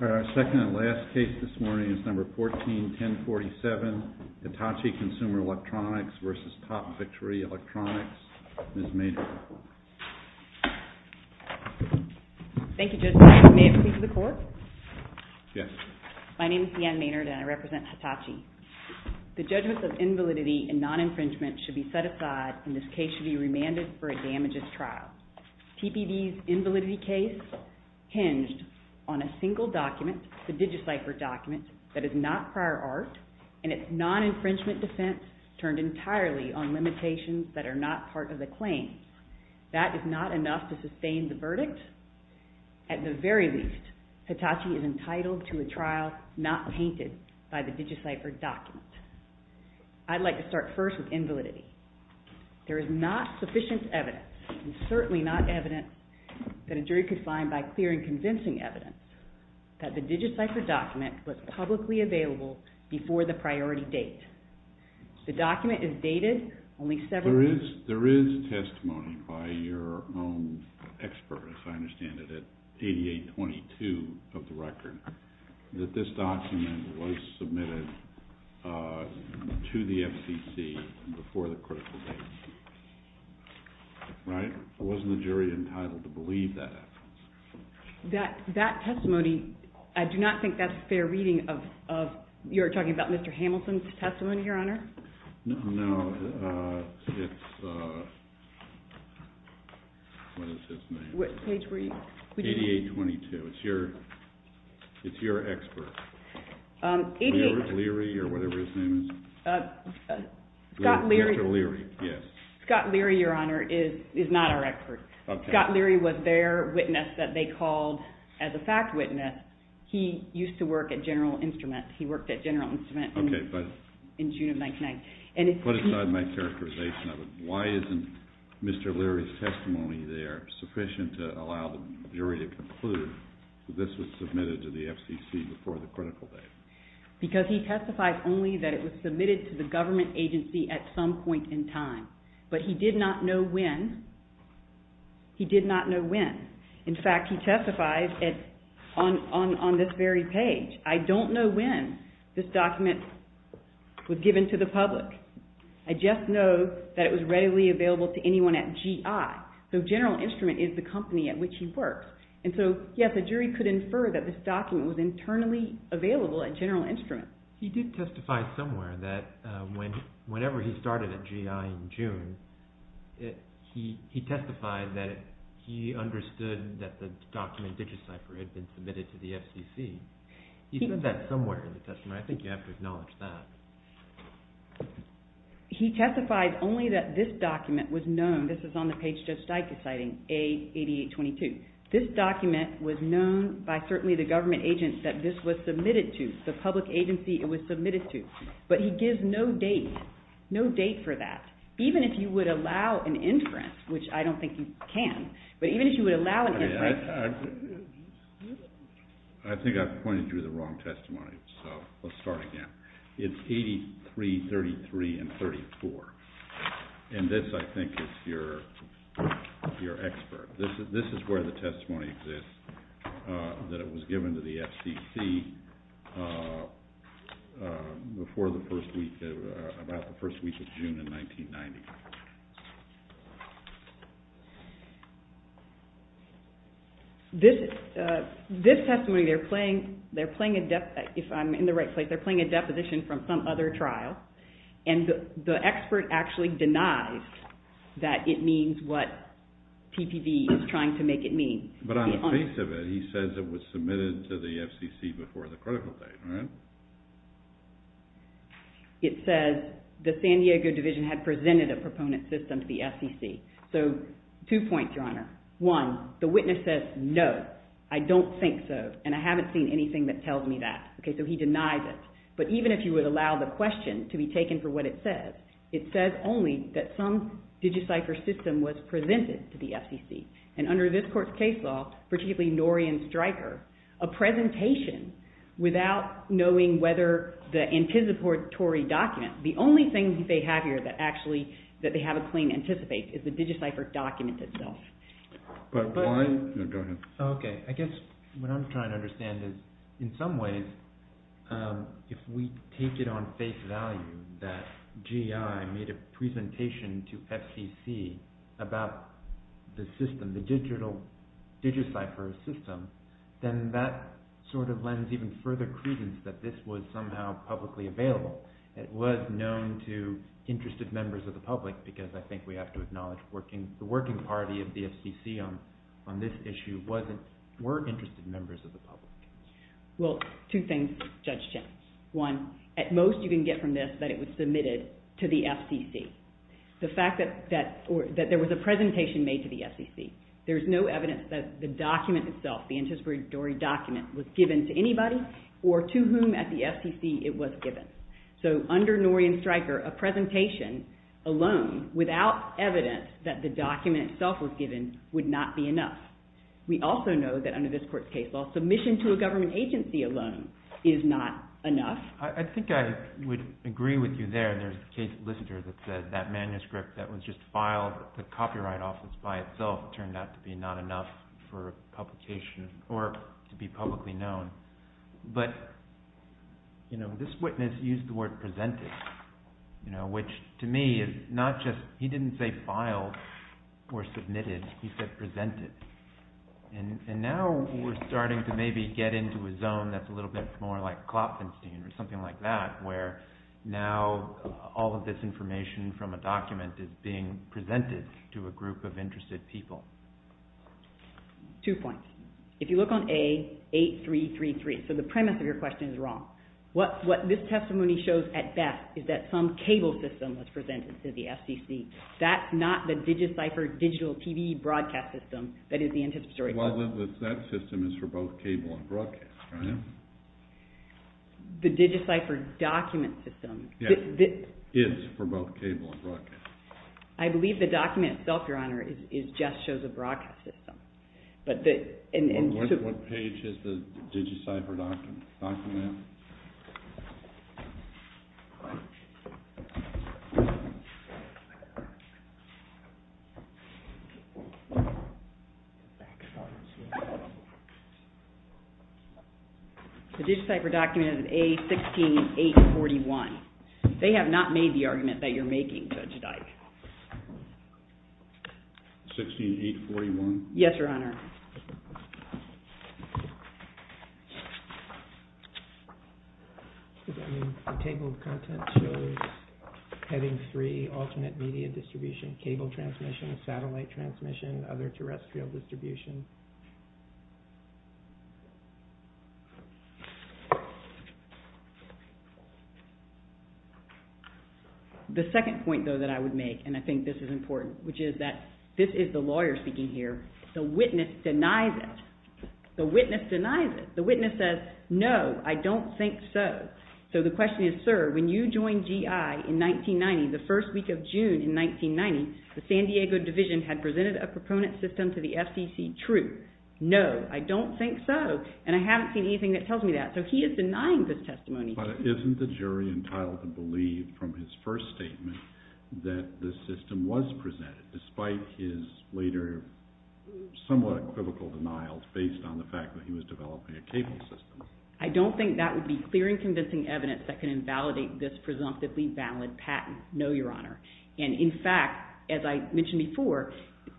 Our second and last case this morning is number 14-1047, Hitachi Consumer Electronics v. Top Victory Electronics. Ms. Maynard. Thank you, Judge. May I speak to the court? Yes. My name is Deanne Maynard and I represent Hitachi. The judgments of invalidity and non-infringement should be set aside and this case should be remanded for a damages trial. TPD's invalidity case hinged on a single document, the DigiCypher document, that is not prior art and its non-infringement defense turned entirely on limitations that are not part of the claim. That is not enough to sustain the verdict. At the very least, Hitachi is entitled to a trial not painted by the DigiCypher document. I'd like to start first with invalidity. There is not sufficient evidence and certainly not evidence that a jury could find by clear and convincing evidence that the DigiCypher document was publicly available before the priority date. The document is dated only several weeks. There is testimony by your own expert, as I understand it, at 8822 of the record, that this document was submitted to the FCC before the critical date. Right? Wasn't the jury entitled to believe that? That testimony, I do not think that's fair reading of, you're talking about Mr. Hamilton's testimony, Your Honor? No, it's, what is his name? What page were you? 8822. It's your expert. 88… Leary or whatever his name is. Scott Leary. Scott Leary, Your Honor, is not our expert. Scott Leary was their witness that they called as a fact witness. He used to work at General Instrument. He worked at General Instrument in June of 1999. Put aside my characterization of it. Why isn't Mr. Leary's testimony there sufficient to allow the jury to conclude that this was submitted to the FCC before the critical date? Because he testified only that it was submitted to the government agency at some point in time. But he did not know when. He did not know when. In fact, he testified on this very page. I don't know when this document was given to the public. I just know that it was readily available to anyone at GI. So General Instrument is the company at which he works. And so, yes, a jury could infer that this document was internally available at General Instrument. He did testify somewhere that whenever he started at GI in June, he testified that he understood that the document DigiCypher had been submitted to the FCC. He said that somewhere in the testimony. I think you have to acknowledge that. He testified only that this document was known. This is on the page Judge Steik is citing, A8822. This document was known by certainly the government agents that this was submitted to, the public agency it was submitted to. But he gives no date, no date for that. Even if you would allow an inference, which I don't think you can, but even if you would allow an inference. I think I've pointed you to the wrong testimony, so let's start again. It's A8333 and 34. And this, I think, is your expert. This is where the testimony exists that it was given to the FCC before the first week, about the first week of June in 1990. This testimony, they're playing, if I'm in the right place, they're playing a deposition from some other trial. And the expert actually denies that it means what PPV is trying to make it mean. But on the face of it, he says it was submitted to the FCC before the critical date, right? It says the San Diego division had presented a proponent system to the FCC. So two points, Your Honor. One, the witness says no, I don't think so, and I haven't seen anything that tells me that. Okay, so he denies it. But even if you would allow the question to be taken for what it says, it says only that some digit cipher system was presented to the FCC. And under this court's case law, particularly Norian Stryker, a presentation without knowing whether the anticipatory document, the only thing they have here that actually, that they have a claim to anticipate is the digit cipher document itself. Okay, I guess what I'm trying to understand is, in some ways, if we take it on face value that GI made a presentation to FCC about the system, the digital digit cipher system, then that sort of lends even further credence that this was somehow publicly available. It was known to interested members of the public, because I think we have to acknowledge the working party of the FCC on this issue were interested members of the public. Well, two things, Judge Chin. One, at most you can get from this that it was submitted to the FCC. The fact that there was a presentation made to the FCC. There's no evidence that the document itself, the anticipatory document, was given to anybody or to whom at the FCC it was given. So under Norian Stryker, a presentation alone without evidence that the document itself was given would not be enough. We also know that under this court's case law, submission to a government agency alone is not enough. I think I would agree with you there. There's a case listener that said that manuscript that was just filed at the Copyright Office by itself turned out to be not enough for publication or to be publicly known. But this witness used the word presented, which to me is not just, he didn't say filed or submitted, he said presented. And now we're starting to maybe get into a zone that's a little bit more like Klopfenstein or something like that, where now all of this information from a document is being presented to a group of interested people. Two points. If you look on A8333, so the premise of your question is wrong. What this testimony shows at best is that some cable system was presented to the FCC. That's not the DigiCypher digital TV broadcast system that is the anticipatory document. Well, that system is for both cable and broadcast, right? The DigiCypher document system. Yes, is for both cable and broadcast. I believe the document itself, Your Honor, just shows a broadcast system. What page is the DigiCypher document? The DigiCypher document is A16841. They have not made the argument that you're making, Judge Dyke. 16841? Yes, Your Honor. Does that mean the table of contents shows having three alternate media distribution, cable transmission, satellite transmission, other terrestrial distribution? The second point, though, that I would make, and I think this is important, which is that this is the lawyer speaking here. The witness denies it. The witness denies it. The witness says, no, I don't think so. So the question is, sir, when you joined GI in 1990, the first week of June in 1990, the San Diego division had presented a proponent system to the FCC. True. No, I don't think so. And I haven't seen anything that tells me that. So he is denying this testimony. But isn't the jury entitled to believe from his first statement that the system was presented, despite his later somewhat equivocal denials based on the fact that he was developing a cable system? I don't think that would be clear and convincing evidence that can invalidate this presumptively valid patent. No, Your Honor. And in fact, as I mentioned before,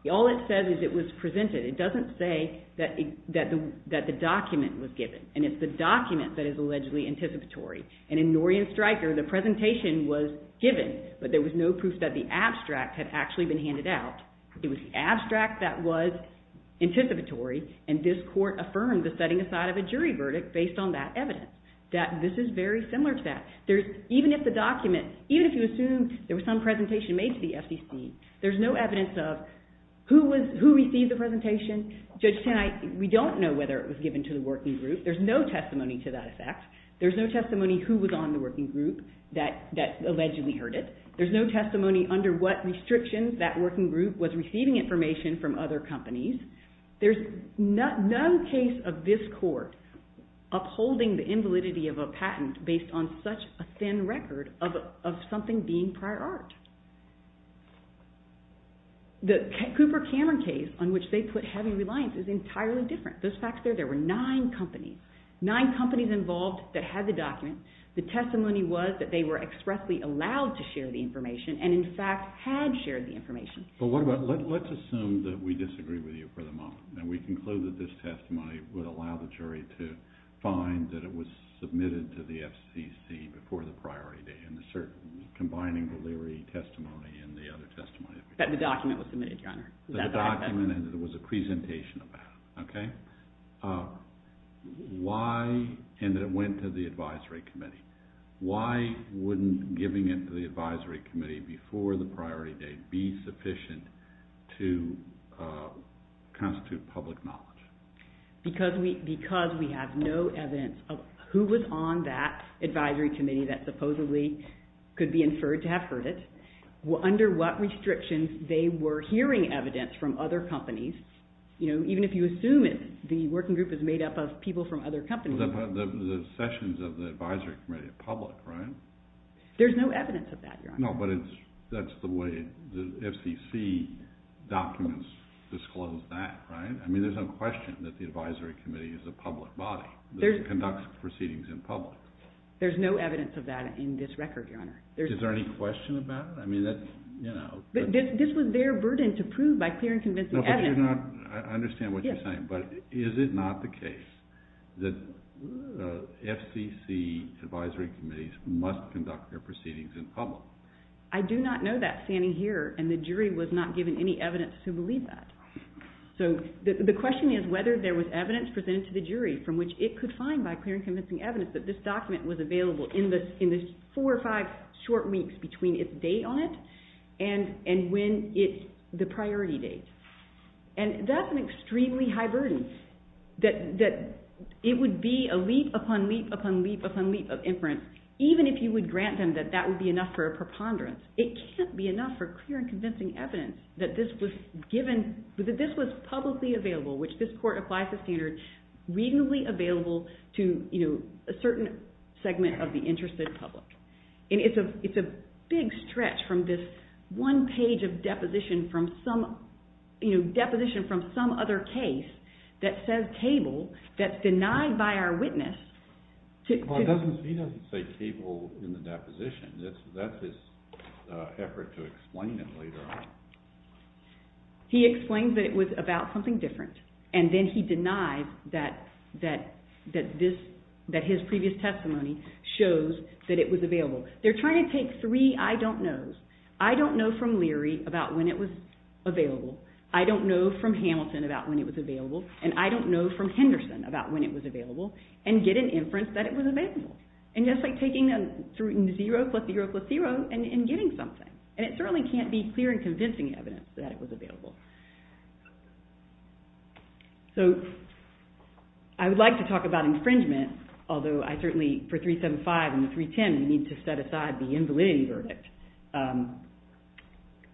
all it says is it was presented. It doesn't say that the document was given. And it's the document that is allegedly anticipatory. And in Nory and Stryker, the presentation was given, but there was no proof that the abstract had actually been handed out. It was the abstract that was anticipatory, and this Court affirmed the setting aside of a jury verdict based on that evidence, that this is very similar to that. Even if you assume there was some presentation made to the FCC, there's no evidence of who received the presentation. Judge Tanai, we don't know whether it was given to the working group. There's no testimony to that effect. There's no testimony who was on the working group that allegedly heard it. There's no testimony under what restrictions that working group was receiving information from other companies. There's no case of this Court upholding the invalidity of a patent based on such a thin record of something being prior art. The Cooper Cameron case on which they put heavy reliance is entirely different. There were nine companies, nine companies involved that had the document. The testimony was that they were expressly allowed to share the information and in fact had shared the information. Let's assume that we disagree with you for the moment. We conclude that this testimony would allow the jury to find that it was submitted to the FCC before the priority date, combining the Leary testimony and the other testimony. That the document was submitted, Your Honor. That the document was a presentation of that. Okay. Why and that it went to the advisory committee. Why wouldn't giving it to the advisory committee before the priority date be sufficient to constitute public knowledge? Because we have no evidence of who was on that advisory committee that supposedly could be inferred to have heard it. Under what restrictions they were hearing evidence from other companies, even if you assume the working group is made up of people from other companies. The sessions of the advisory committee are public, right? There's no evidence of that, Your Honor. No, but that's the way the FCC documents disclose that, right? I mean, there's no question that the advisory committee is a public body that conducts proceedings in public. There's no evidence of that in this record, Your Honor. Is there any question about it? This was their burden to prove by clear and convincing evidence. I understand what you're saying, but is it not the case that FCC advisory committees must conduct their proceedings in public? I do not know that standing here, and the jury was not given any evidence to believe that. So the question is whether there was evidence presented to the jury from which it could find by clear and convincing evidence that this document was available in the four or five short weeks between its date on it and when it's the priority date. And that's an extremely high burden, that it would be a leap upon leap upon leap upon leap of inference, even if you would grant them that that would be enough for a preponderance. It can't be enough for clear and convincing evidence that this was publicly available, which this court applies the standard, readily available to a certain segment of the interested public. And it's a big stretch from this one page of deposition from some other case that says table, that's denied by our witness. He doesn't say table in the deposition. That's his effort to explain it later on. He explains that it was about something different, and then he denies that his previous testimony shows that it was available. They're trying to take three I don't knows. I don't know from Leary about when it was available. I don't know from Hamilton about when it was available, and I don't know from Henderson about when it was available, and get an inference that it was available. And that's like taking a 0 plus 0 plus 0 and getting something, and it certainly can't be clear and convincing evidence that it was available. So I would like to talk about infringement, although I certainly for 375 and 310 need to set aside the invalid verdict.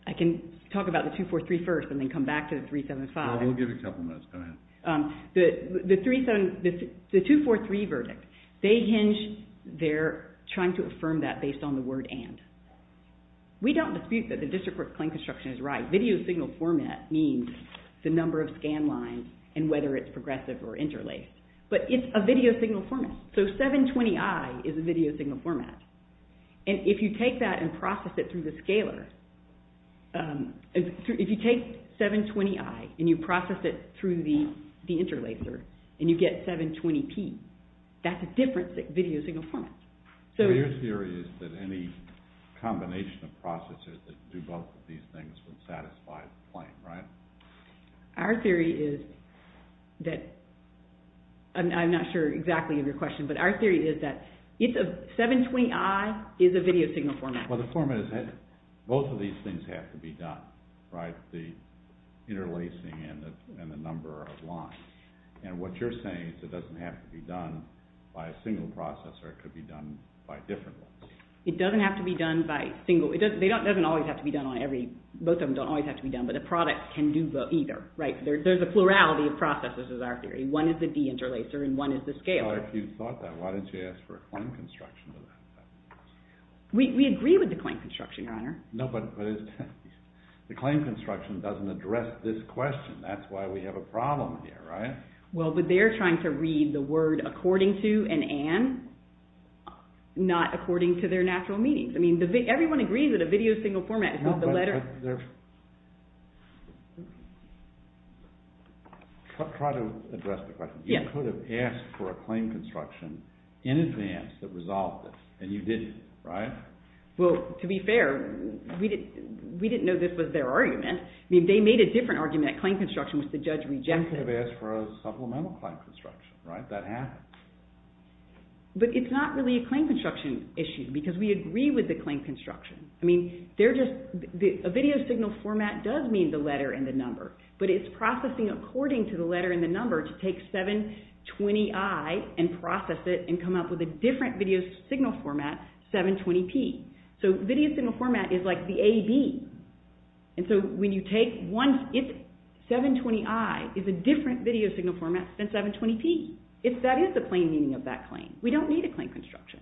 I can talk about the 243 first and then come back to the 375. We'll give it a couple minutes. Go ahead. The 243 verdict, they hinge, they're trying to affirm that based on the word and. We don't dispute that the district court claim construction is right. Video signal format means the number of scan lines and whether it's progressive or interlaced. But it's a video signal format. So 720i is a video signal format. And if you take that and process it through the scaler, if you take 720i and you process it through the interlacer and you get 720p, that's a different video signal format. So your theory is that any combination of processors that do both of these things would satisfy the claim, right? Our theory is that, I'm not sure exactly of your question, but our theory is that 720i is a video signal format. Well, the format is, both of these things have to be done, right? The interlacing and the number of lines. And what you're saying is it doesn't have to be done by a single processor, it could be done by different ones. It doesn't have to be done by single, it doesn't always have to be done on every, both of them don't always have to be done, but a product can do both either, right? There's a plurality of processors is our theory. One is the deinterlacer and one is the scaler. Well, if you thought that, why didn't you ask for a claim construction? We agree with the claim construction, Your Honor. No, but the claim construction doesn't address this question. That's why we have a problem here, right? Well, but they're trying to read the word according to and an, not according to their natural meanings. I mean, everyone agrees that a video signal format is not the letter… No, but there… Try to address the question. You could have asked for a claim construction in advance that resolved this, and you didn't, right? Well, to be fair, we didn't know this was their argument. I mean, they made a different argument at claim construction, which the judge rejected. Well, you could have asked for a supplemental claim construction, right? That happened. But it's not really a claim construction issue because we agree with the claim construction. I mean, they're just, a video signal format does mean the letter and the number, but it's processing according to the letter and the number to take 720i and process it and come up with a different video signal format, 720p. So video signal format is like the AB. And so when you take one… 720i is a different video signal format than 720p. If that is the plain meaning of that claim, we don't need a claim construction.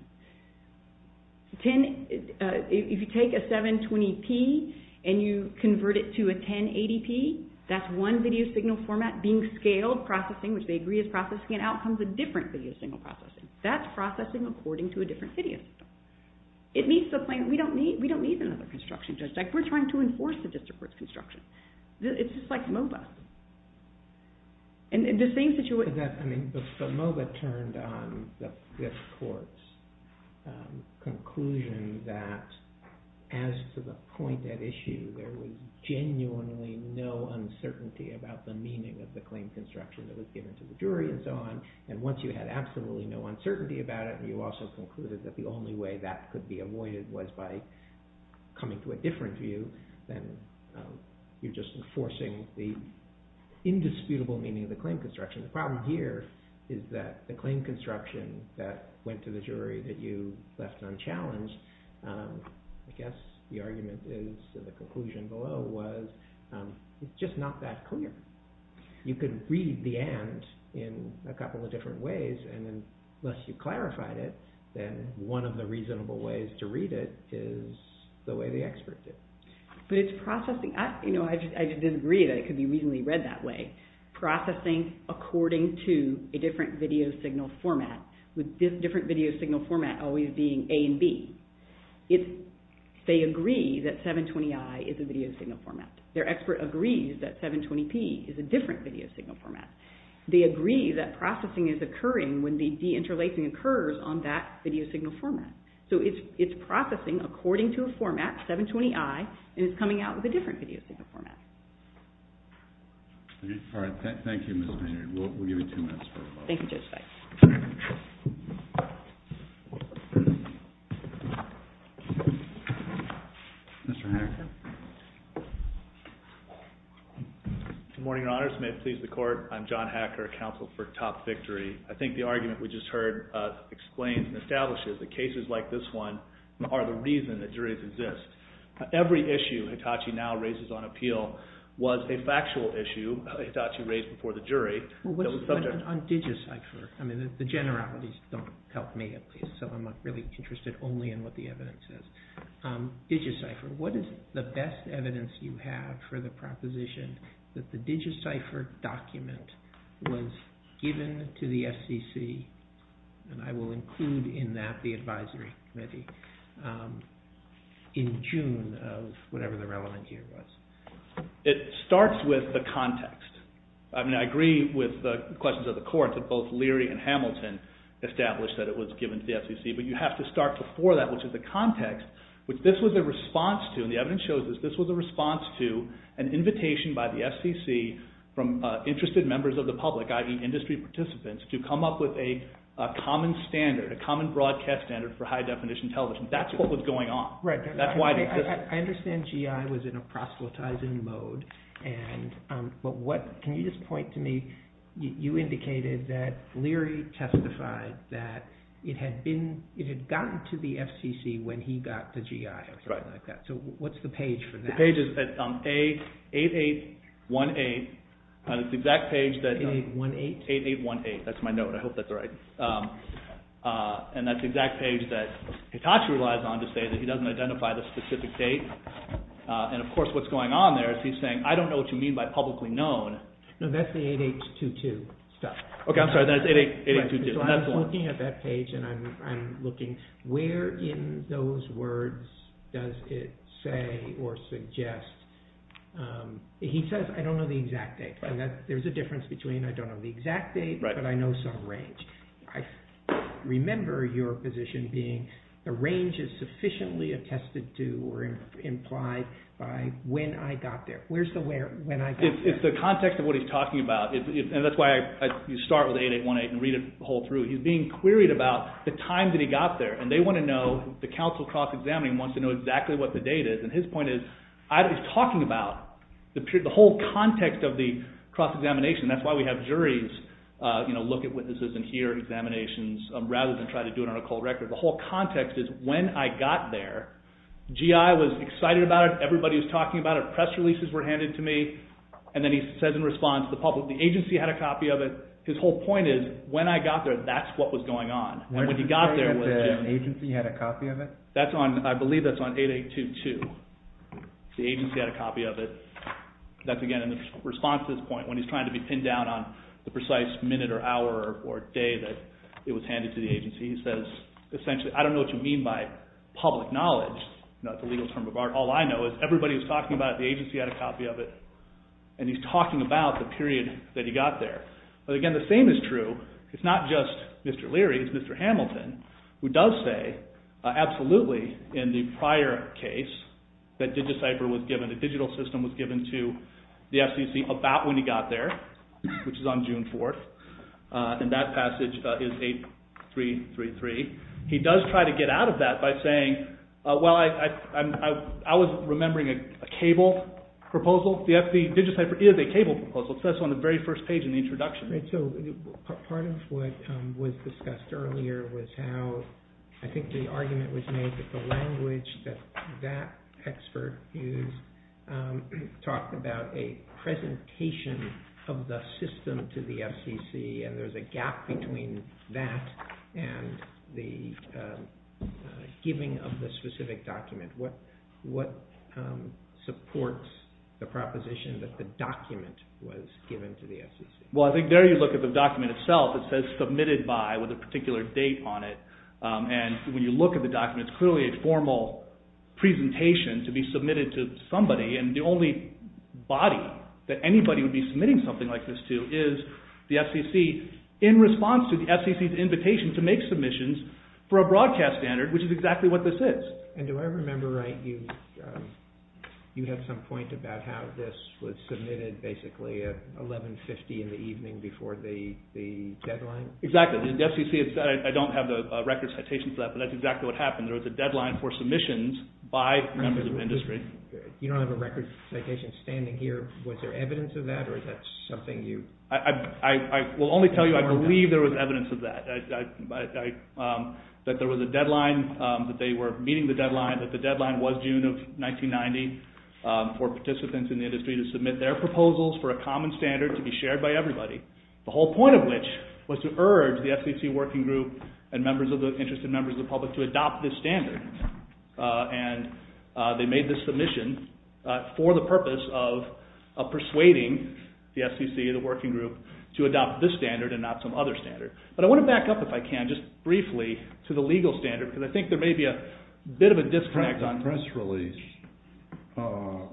If you take a 720p and you convert it to a 1080p, that's one video signal format being scaled, processing, which they agree is processing, and out comes a different video signal processing. That's processing according to a different video signal. It meets the claim. We don't need another construction. We're trying to enforce the district court's construction. It's just like MOBA. And in the same situation… But MOBA turned on the court's conclusion that as to the point at issue, there was genuinely no uncertainty about the meaning of the claim construction that was given to the jury and so on. And once you had absolutely no uncertainty about it, you also concluded that the only way that could be avoided was by coming to a different view than you're just enforcing the indisputable meaning of the claim construction. The problem here is that the claim construction that went to the jury that you left unchallenged, I guess the argument is the conclusion below was it's just not that clear. You could read the and in a couple of different ways, and unless you clarified it, then one of the reasonable ways to read it is the way the expert did. But it's processing. I just disagree that it could be reasonably read that way. Processing according to a different video signal format, with different video signal format always being A and B. They agree that 720i is a video signal format. Their expert agrees that 720p is a different video signal format. They agree that processing is occurring when the deinterlacing occurs on that video signal format. So it's processing according to a format, 720i, and it's coming out with a different video signal format. Thank you, Ms. Maynard. We'll give you two minutes. Thank you, Judge Feist. Mr. Hacker. Good morning, Your Honors. May it please the Court. I'm John Hacker, counsel for Top Victory. I think the argument we just heard explains and establishes that cases like this one are the reason that juries exist. Every issue Hitachi now raises on appeal was a factual issue Hitachi raised before the jury. On DigiCypher, the generalities don't help me at least, so I'm not really interested only in what the evidence says. DigiCypher, what is the best evidence you have for the proposition that the DigiCypher document was given to the FCC, and I will include in that the advisory committee, in June of whatever the relevant year was? It starts with the context. I mean, I agree with the questions of the Court that both Leary and Hamilton established that it was given to the FCC, but you have to start before that, which is the context, which this was a response to, and the evidence shows that this was a response to an invitation by the FCC from interested members of the public, i.e., industry participants, to come up with a common standard, a common broadcast standard for high-definition television. That's what was going on. I understand GI was in a proselytizing mode, but can you just point to me, you indicated that Leary testified that it had gotten to the FCC when he got the GI, or something like that. So what's the page for that? The page is at 8818, that's my note, I hope that's right. And that's the exact page that Hitachi relies on to say that he doesn't identify the specific date, and of course what's going on there is he's saying, I don't know what you mean by publicly known. No, that's the 8822 stuff. Okay, I'm sorry, that's 8822. So I'm looking at that page, and I'm looking, where in those words does it say or suggest, he says, I don't know the exact date, and there's a difference between I don't know the exact date, but I know some range. I remember your position being the range is sufficiently attested to or implied by when I got there. Where's the where, when I got there? It's the context of what he's talking about, and that's why you start with 8818 and read it the whole through. He's being queried about the time that he got there, and they want to know, the counsel cross-examining wants to know exactly what the date is, and his point is, he's talking about the whole context of the cross-examination, and that's why we have juries look at witnesses and hear examinations, rather than try to do it on a cold record. The whole context is, when I got there, GI was excited about it, everybody was talking about it, press releases were handed to me, and then he says in response, the agency had a copy of it. His whole point is, when I got there, that's what was going on. When he got there, the agency had a copy of it? I believe that's on 8822. The agency had a copy of it. That's, again, in response to this point, when he's trying to be pinned down on the precise minute or hour or day that it was handed to the agency. He says, essentially, I don't know what you mean by public knowledge. That's a legal term of art. All I know is everybody was talking about it, the agency had a copy of it, and he's talking about the period that he got there. But, again, the same is true. It's not just Mr. Leary, it's Mr. Hamilton, who does say, absolutely, in the prior case that DigiCypher was given, a digital system was given to the FCC about when he got there, which is on June 4th, and that passage is 8333. He does try to get out of that by saying, well, I was remembering a cable proposal. The DigiCypher is a cable proposal. It says so on the very first page in the introduction. Part of what was discussed earlier was how I think the argument was made that the language that that expert used talked about a presentation of the system to the FCC, and there's a gap between that and the giving of the specific document. What supports the proposition that the document was given to the FCC? Well, I think there you look at the document itself. It says submitted by, with a particular date on it, and when you look at the document, it's clearly a formal presentation to be submitted to somebody, and the only body that anybody would be submitting something like this to is the FCC in response to the FCC's invitation to make submissions for a broadcast standard, which is exactly what this is. And do I remember right, you have some point about how this was submitted basically at 11.50 in the evening before the deadline? Exactly. The FCC, I don't have the record citation for that, but that's exactly what happened. There was a deadline for submissions by members of industry. You don't have a record citation standing here. Was there evidence of that, or is that something you? I will only tell you I believe there was evidence of that, that there was a deadline, that they were meeting the deadline, that the deadline was June of 1990 for participants in the industry to submit their proposals for a common standard to be shared by everybody, the whole point of which was to urge the FCC working group and interested members of the public to adopt this standard. And they made this submission for the purpose of persuading the FCC, the working group, to adopt this standard and not some other standard. But I want to back up if I can just briefly to the legal standard, because I think there may be a bit of a disconnect. The press release,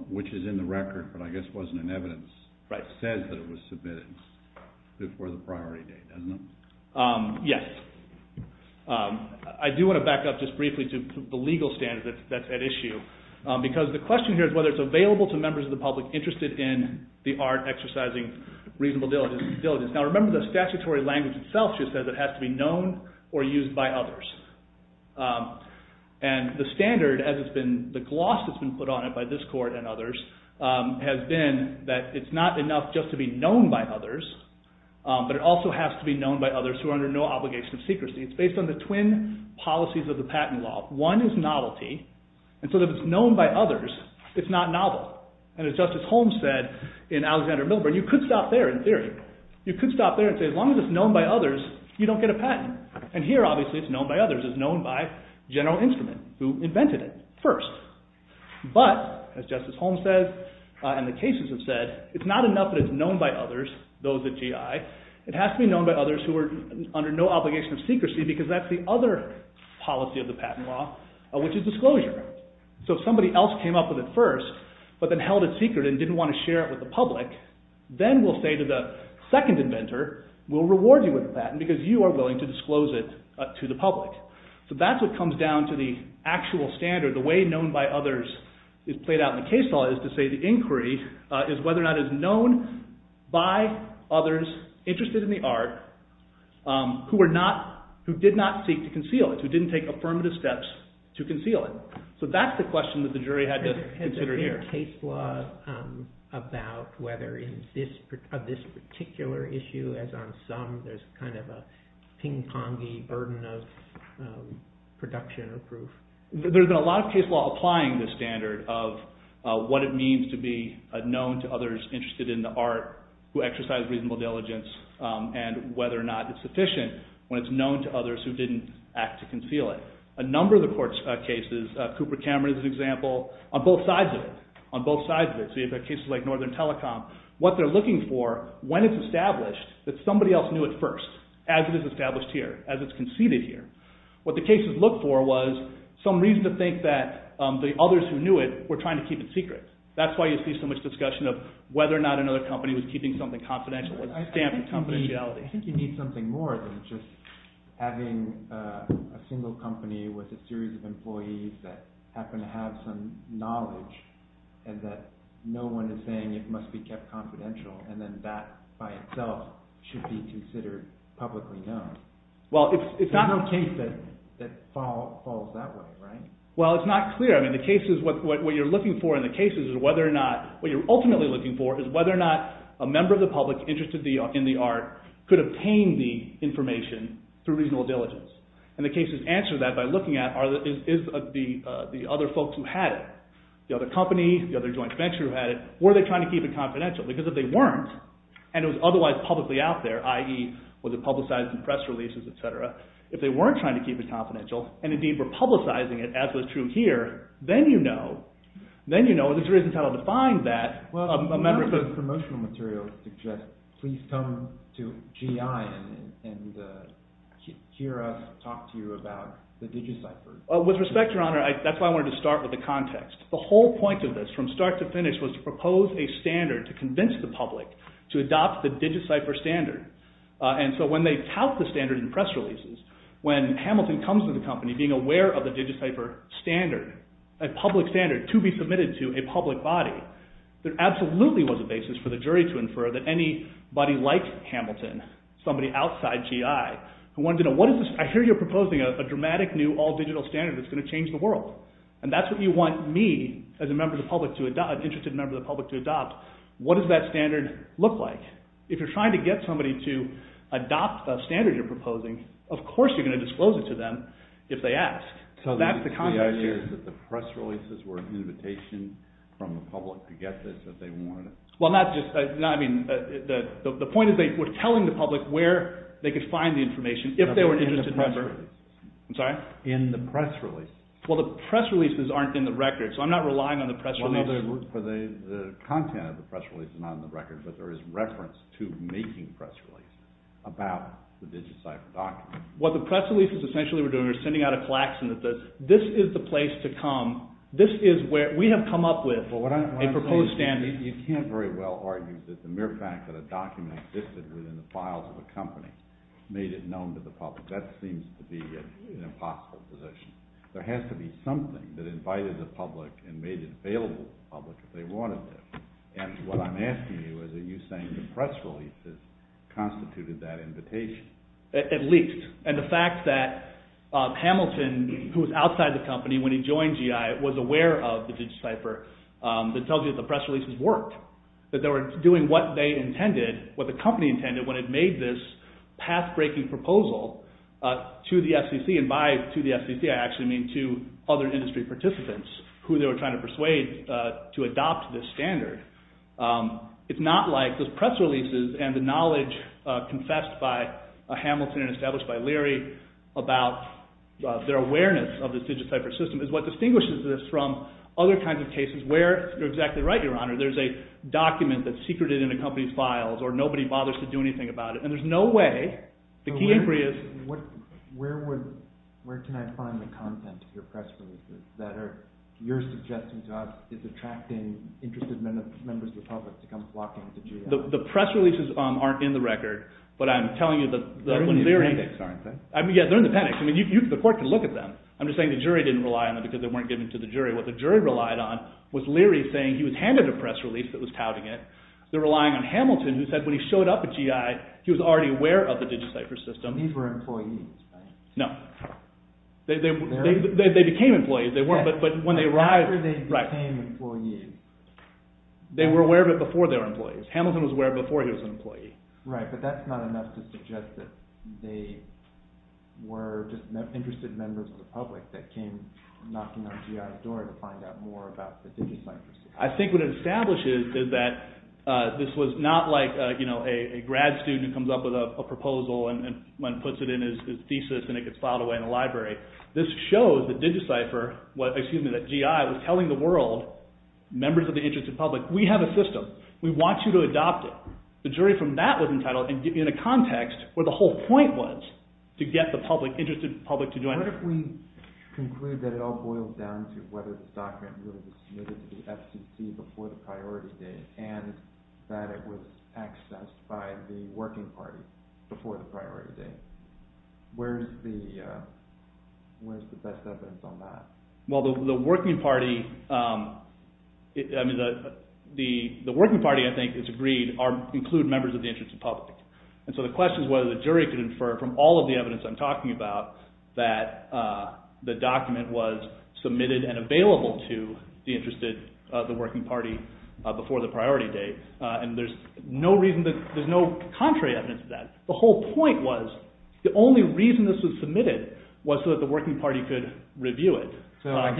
which is in the record, but I guess wasn't in evidence, says that it was submitted before the priority date, doesn't it? Yes. I do want to back up just briefly to the legal standard that's at issue, because the question here is whether it's available to members of the public interested in the art exercising reasonable diligence. Now remember the statutory language itself just says it has to be known or used by others. And the standard, as it's been, the gloss that's been put on it by this court and others has been that it's not enough just to be known by others, but it also has to be known by others who are under no obligation of secrecy. It's based on the twin policies of the patent law. One is novelty, and so if it's known by others, it's not novel. And as Justice Holmes said in Alexander Milburn, you could stop there in theory. You could stop there and say as long as it's known by others, you don't get a patent. And here obviously it's known by others. It's known by general instrument who invented it first. But, as Justice Holmes said and the cases have said, it's not enough that it's known by others, those at GI, it has to be known by others who are under no obligation of secrecy because that's the other policy of the patent law, which is disclosure. So if somebody else came up with it first, but then held it secret and didn't want to share it with the public, then we'll say to the second inventor, we'll reward you with a patent because you are willing to disclose it to the public. So that's what comes down to the actual standard. The way known by others is played out in the case law is to say the inquiry is whether or not it's known by others interested in the art who did not seek to conceal it, who didn't take affirmative steps to conceal it. So that's the question that the jury had to consider here. Is there a case law about whether in this particular issue, as on some, there's kind of a ping pong-y burden of production or proof? There's been a lot of case law applying this standard of what it means to be known to others interested in the art who exercise reasonable diligence and whether or not it's sufficient when it's known to others who didn't act to conceal it. A number of the court cases, Cooper Cameron is an example, on both sides of it. So you have cases like Northern Telecom. What they're looking for, when it's established, that somebody else knew it first as it is established here, as it's conceded here. What the cases look for was some reason to think that the others who knew it were trying to keep it secret. That's why you see so much discussion of whether or not another company was keeping something confidential, with a stamp of confidentiality. I think you need something more than just having a single company with a series of employees that happen to have some knowledge and that no one is saying it must be kept confidential and then that by itself should be considered publicly known. There's no case that falls that way, right? Well, it's not clear. What you're looking for in the cases is whether or not, could obtain the information through reasonable diligence. And the cases answer that by looking at the other folks who had it. The other company, the other joint venture who had it. Were they trying to keep it confidential? Because if they weren't, and it was otherwise publicly out there, i.e. was it publicized in press releases, etc. If they weren't trying to keep it confidential, and indeed were publicizing it, as was true here, then you know, and there's reasons how to define that. Well, as the promotional material suggests, please come to GI and hear us talk to you about the DigiCypher. With respect, Your Honor, that's why I wanted to start with the context. The whole point of this, from start to finish, was to propose a standard to convince the public to adopt the DigiCypher standard. And so when they tout the standard in press releases, when Hamilton comes to the company being aware of the DigiCypher standard, a public standard to be submitted to a public body, there absolutely was a basis for the jury to infer that anybody like Hamilton, somebody outside GI, who wanted to know, I hear you're proposing a dramatic new all-digital standard that's going to change the world. And that's what you want me, as an interested member of the public, to adopt. What does that standard look like? If you're trying to get somebody to adopt the standard you're proposing, of course you're going to disclose it to them if they ask. So the idea is that the press releases were an invitation from the public to get this if they wanted it? The point is they were telling the public where they could find the information if they were an interested member. In the press release? Well, the press releases aren't in the record, so I'm not relying on the press release. The content of the press release is not in the record, but there is reference to making the press release about the DigiCypher document. What the press releases essentially were doing was sending out a klaxon that this is the place to come. This is where we have come up with a proposed standard. You can't very well argue that the mere fact that a document existed within the files of a company made it known to the public. That seems to be an impossible position. There has to be something that invited the public and made it available to the public if they wanted it. And what I'm asking you is are you saying the press releases constituted that invitation? At least. And the fact that Hamilton, who was outside the company when he joined GI, was aware of the DigiCypher, that tells you that the press releases worked, that they were doing what the company intended when it made this path-breaking proposal to the FCC, and by to the FCC I actually mean to other industry participants who they were trying to persuade to adopt this standard. It's not like those press releases and the knowledge confessed by Hamilton and established by Leary about their awareness of the DigiCypher system is what distinguishes this from other kinds of cases where you're exactly right, Your Honor, there's a document that's secreted in a company's files or nobody bothers to do anything about it. And there's no way. The key inquiry is... Where can I find the content of your press releases that you're suggesting is attracting interested members of the public to come flocking to GI? The press releases aren't in the record, but I'm telling you that when Leary... They're in the appendix, aren't they? Yeah, they're in the appendix. The court can look at them. I'm just saying the jury didn't rely on them because they weren't given to the jury. What the jury relied on was Leary saying he was handed a press release that was touting it. They're relying on Hamilton who said when he showed up at GI he was already aware of the DigiCypher system. These were employees, right? They became employees, but when they arrived... After they became employees. They were aware of it before they were employees. Hamilton was aware before he was an employee. Right, but that's not enough to suggest that they were just interested members of the public that came knocking on GI's door to find out more about the DigiCypher system. I think what it establishes is that this was not like a grad student who comes up with a proposal and puts it in his thesis and it gets filed away in a library. This shows that DigiCypher... Excuse me, that GI was telling the world members of the interested public, we have a system, we want you to adopt it. The jury from that was entitled in a context where the whole point was to get the interested public to join. What if we conclude that it all boils down to whether the document really was submitted to the FCC before the priority date and that it was accessed by the working party before the priority date? Where's the best evidence on that? Well, the working party, I think it's agreed, include members of the interested public. And so the question is whether the jury can infer from all of the evidence I'm talking about that the document was submitted and available to the working party before the priority date. And there's no contrary evidence to that. The whole point was, the only reason this was submitted was so that the working party could review it. So I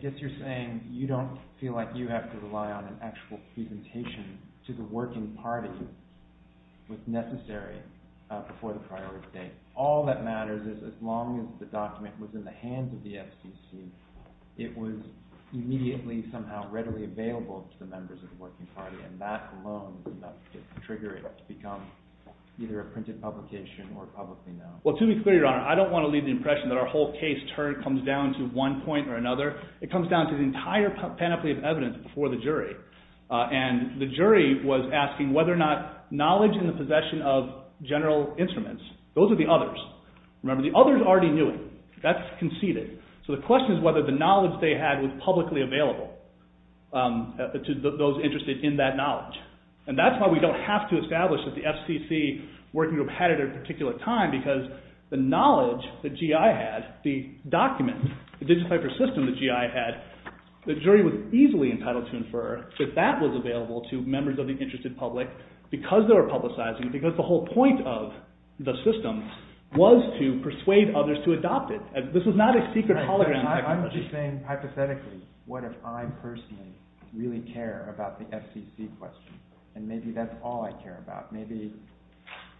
guess you're saying you don't feel like you have to rely on an actual presentation to the working party was necessary before the priority date. All that matters is as long as the document was in the hands of the FCC, it was immediately somehow readily available to the members of the working party, and that alone did not trigger it to become either a printed publication or publicly known. Well, to be clear, Your Honor, I don't want to leave the impression that our whole case comes down to one point or another. It comes down to the entire panoply of evidence before the jury. And the jury was asking whether or not knowledge in the possession of general instruments, those are the others. Remember, the others already knew it. That's conceded. So the question is whether the knowledge they had was publicly available to those interested in that knowledge. And that's why we don't have to establish that the FCC working group had it at a particular time because the knowledge that GI had, the document, the digitized system that GI had, the jury was easily entitled to infer that that was available to members of the interested public because they were publicizing it, because the whole point of the system was to persuade others to adopt it. This was not a secret hologram technology. I'm just saying hypothetically, what if I personally really care about the FCC question? And maybe that's all I care about. Maybe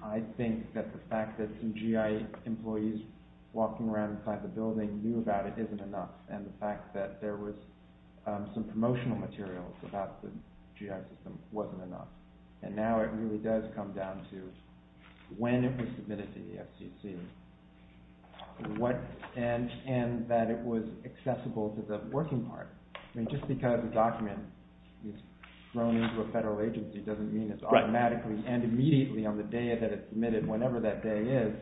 I think that the fact that some GI employees walking around inside the building knew about it isn't enough, and the fact that there was some promotional materials about the GI system wasn't enough. And now it really does come down to when it was submitted to the FCC and that it was accessible to the working party. I mean, just because a document is thrown into a federal agency doesn't mean it's automatically and immediately, on the day that it's submitted, whenever that day is,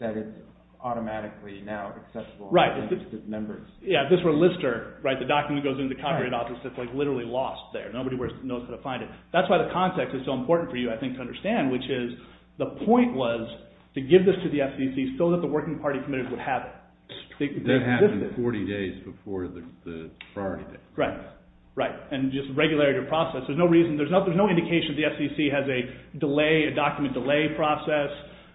that it's automatically now accessible to members. Yeah, if this were Lister, the document goes into the Copyright Office, it's literally lost there. Nobody knows how to find it. That's why the context is so important for you, I think, to understand, which is the point was to give this to the FCC so that the working party committees would have it. That happened 40 days before the priority date. Right, right. And just regularity of process. There's no indication that the FCC has a document delay process.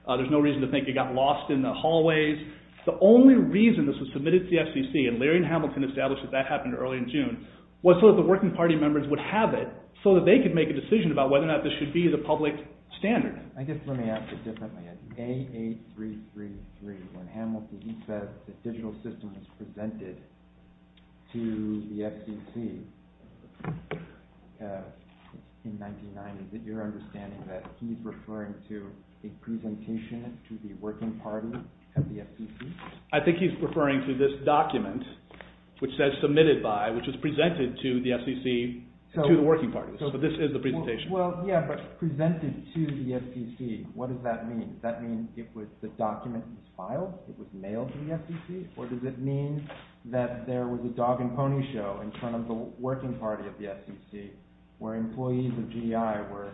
There's no reason to think it got lost in the hallways. The only reason this was submitted to the FCC, and Larry and Hamilton established that that happened early in June, was so that the working party members would have it so that they could make a decision about whether or not this should be the public standard. I guess let me ask it differently. In AA333, when Hamilton says the digital system is presented to the FCC in 1990, is it your understanding that he's referring to a presentation to the working party at the FCC? I think he's referring to this document, which says submitted by, which was presented to the FCC, to the working parties. So this is the presentation. Well, yeah, but presented to the FCC. What does that mean? Does that mean it was the document that was filed? It was mailed to the FCC? Or does it mean that there was a dog and pony show in front of the working party at the FCC where employees of GDI were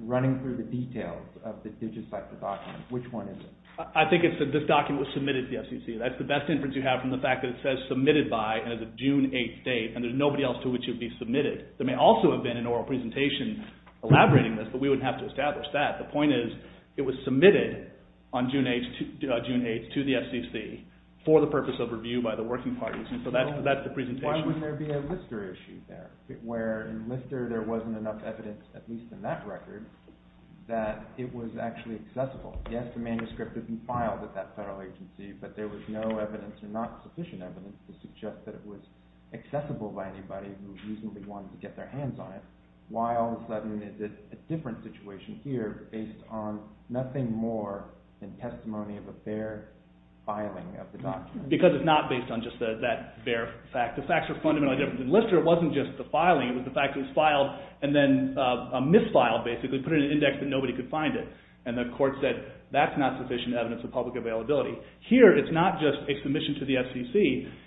running through the details of the digitized document? Which one is it? I think it's that this document was submitted to the FCC. That's the best inference you have from the fact that it says submitted by and has a June 8th date, and there's nobody else to which it would be submitted. There may also have been an oral presentation elaborating this, but we wouldn't have to establish that. The point is it was submitted on June 8th to the FCC for the purpose of review by the working parties, and so that's the presentation. Why wouldn't there be a Lister issue there, where in Lister there wasn't enough evidence, at least in that record, that it was actually accessible? Yes, the manuscript had been filed at that federal agency, but there was no evidence or not sufficient evidence to suggest that it was accessible by anybody who reasonably wanted to get their hands on it. Why all of a sudden is it a different situation here based on nothing more than testimony of a fair filing of the document? Because it's not based on just that fair fact. The facts are fundamentally different. In Lister it wasn't just the filing, it was the fact that it was filed and then misfiled basically, put in an index that nobody could find it, and the court said that's not sufficient evidence of public availability. Here it's not just a submission to the FCC,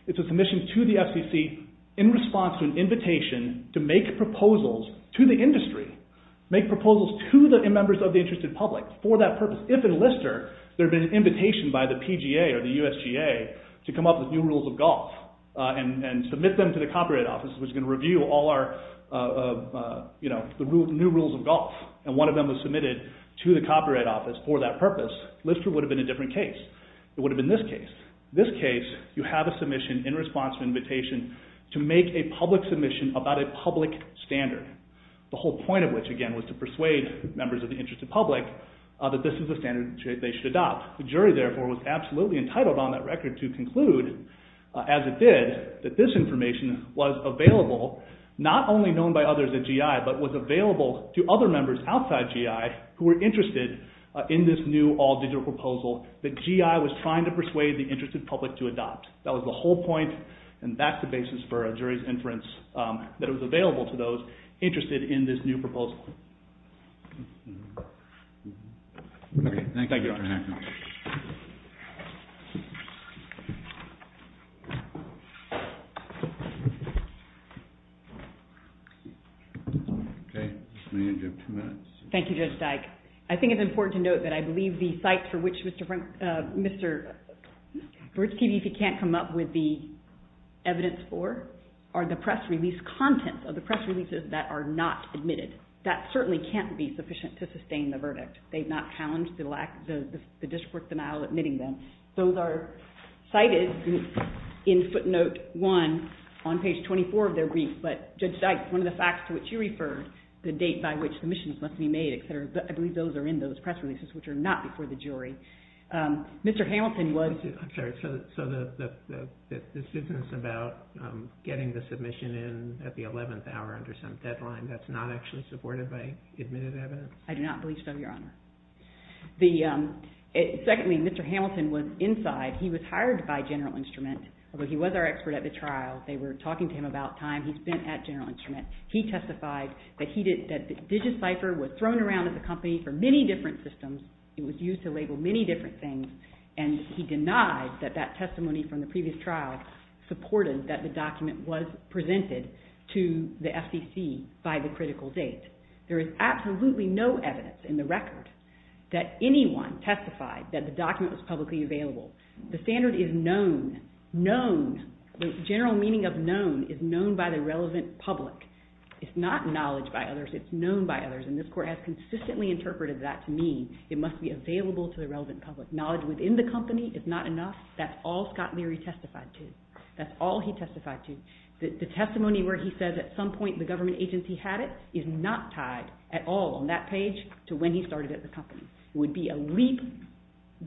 it's a submission to the FCC in response to an invitation to make proposals to the industry, make proposals to the members of the interested public for that purpose. If in Lister there had been an invitation by the PGA or the USGA to come up with new rules of golf and submit them to the Copyright Office, which was going to review all our new rules of golf, and one of them was submitted to the Copyright Office for that purpose, Lister would have been a different case. It would have been this case. In this case you have a submission in response to an invitation to make a public submission about a public standard. The whole point of which, again, was to persuade members of the interested public that this is the standard they should adopt. The jury, therefore, was absolutely entitled on that record to conclude as it did that this information was available not only known by others at GI, but was available to other members outside GI who were interested in this new all-digital proposal that GI was trying to persuade the interested public to adopt. That was the whole point, and that's the basis for a jury's inference that it was available to those interested in this new proposal. Thank you, Dr. Hacker. Okay. We have two minutes. Thank you, Judge Dyke. I think it's important to note that I believe the sites for which Mr. Virch TV can't come up with the evidence for are the press release contents of the press releases that are not admitted. That certainly can't be sufficient to sustain the verdict. They've not challenged the jury's judgment on the content of the press releases. Those are cited in footnote 1 on page 24 of their brief, but Judge Dyke, one of the facts to which you referred, the date by which submissions must be made, et cetera, I believe those are in those press releases which are not before the jury. Mr. Hamilton was... I'm sorry. So the sentence about getting the submission in at the 11th hour under some deadline, that's not actually supported by admitted evidence? I do not believe so, Your Honor. Secondly, Mr. Hamilton was inside. He was hired by General Instrument, although he was our expert at the trial. They were talking to him about time he spent at General Instrument. He testified that DigiCypher was thrown around at the company for many different systems. It was used to label many different things, and he denied that that testimony from the previous trial supported that the document was presented to the FCC by the critical date. There is absolutely no evidence in the record that anyone testified that the document was publicly available. The standard is known. Known. The general meaning of known is known by the relevant public. It's not knowledge by others. It's known by others, and this Court has consistently interpreted that to mean it must be available to the relevant public. Knowledge within the company is not enough. That's all Scott Leary testified to. That's all he testified to. The testimony where he says at some point the government agency had it is not tied at all on that page to when he started at the company. It would be a leap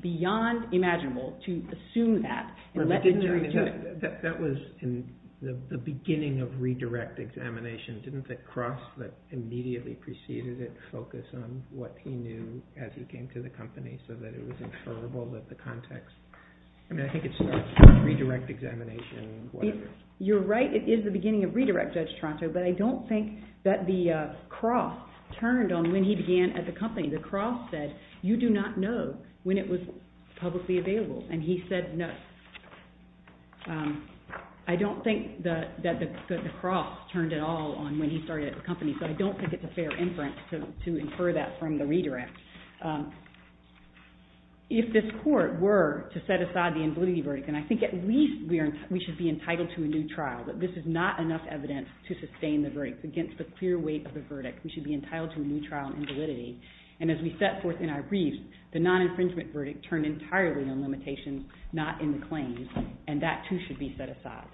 beyond imaginable to assume that and let the judge do it. That was in the beginning of redirect examination. Didn't the cross that immediately preceded it focus on what he knew as he came to the company so that it was inferrable that the context... I mean, I think it starts with redirect examination. You're right. It is the beginning of redirect, Judge Toronto, but I don't think that the cross turned on when he began at the company. The cross said you do not know when it was publicly available, and he said no. I don't think that the cross turned at all on when he started at the company, so I don't think it's a fair inference to infer that from the redirect. If this Court were to set aside the invalidity verdict, and I think at least we should be entitled to a new trial, but this is not enough evidence to sustain the verdict. It's against the clear weight of the verdict. We should be entitled to a new trial on invalidity. And as we set forth in our briefs, the non-infringement verdict turned entirely on limitations, not in the claims, and that, too, should be set aside.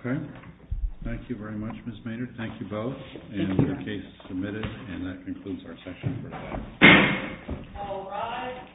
Okay. Thank you very much, Ms. Maynard. Thank you both. And the case is submitted, and that concludes our session for today. All rise.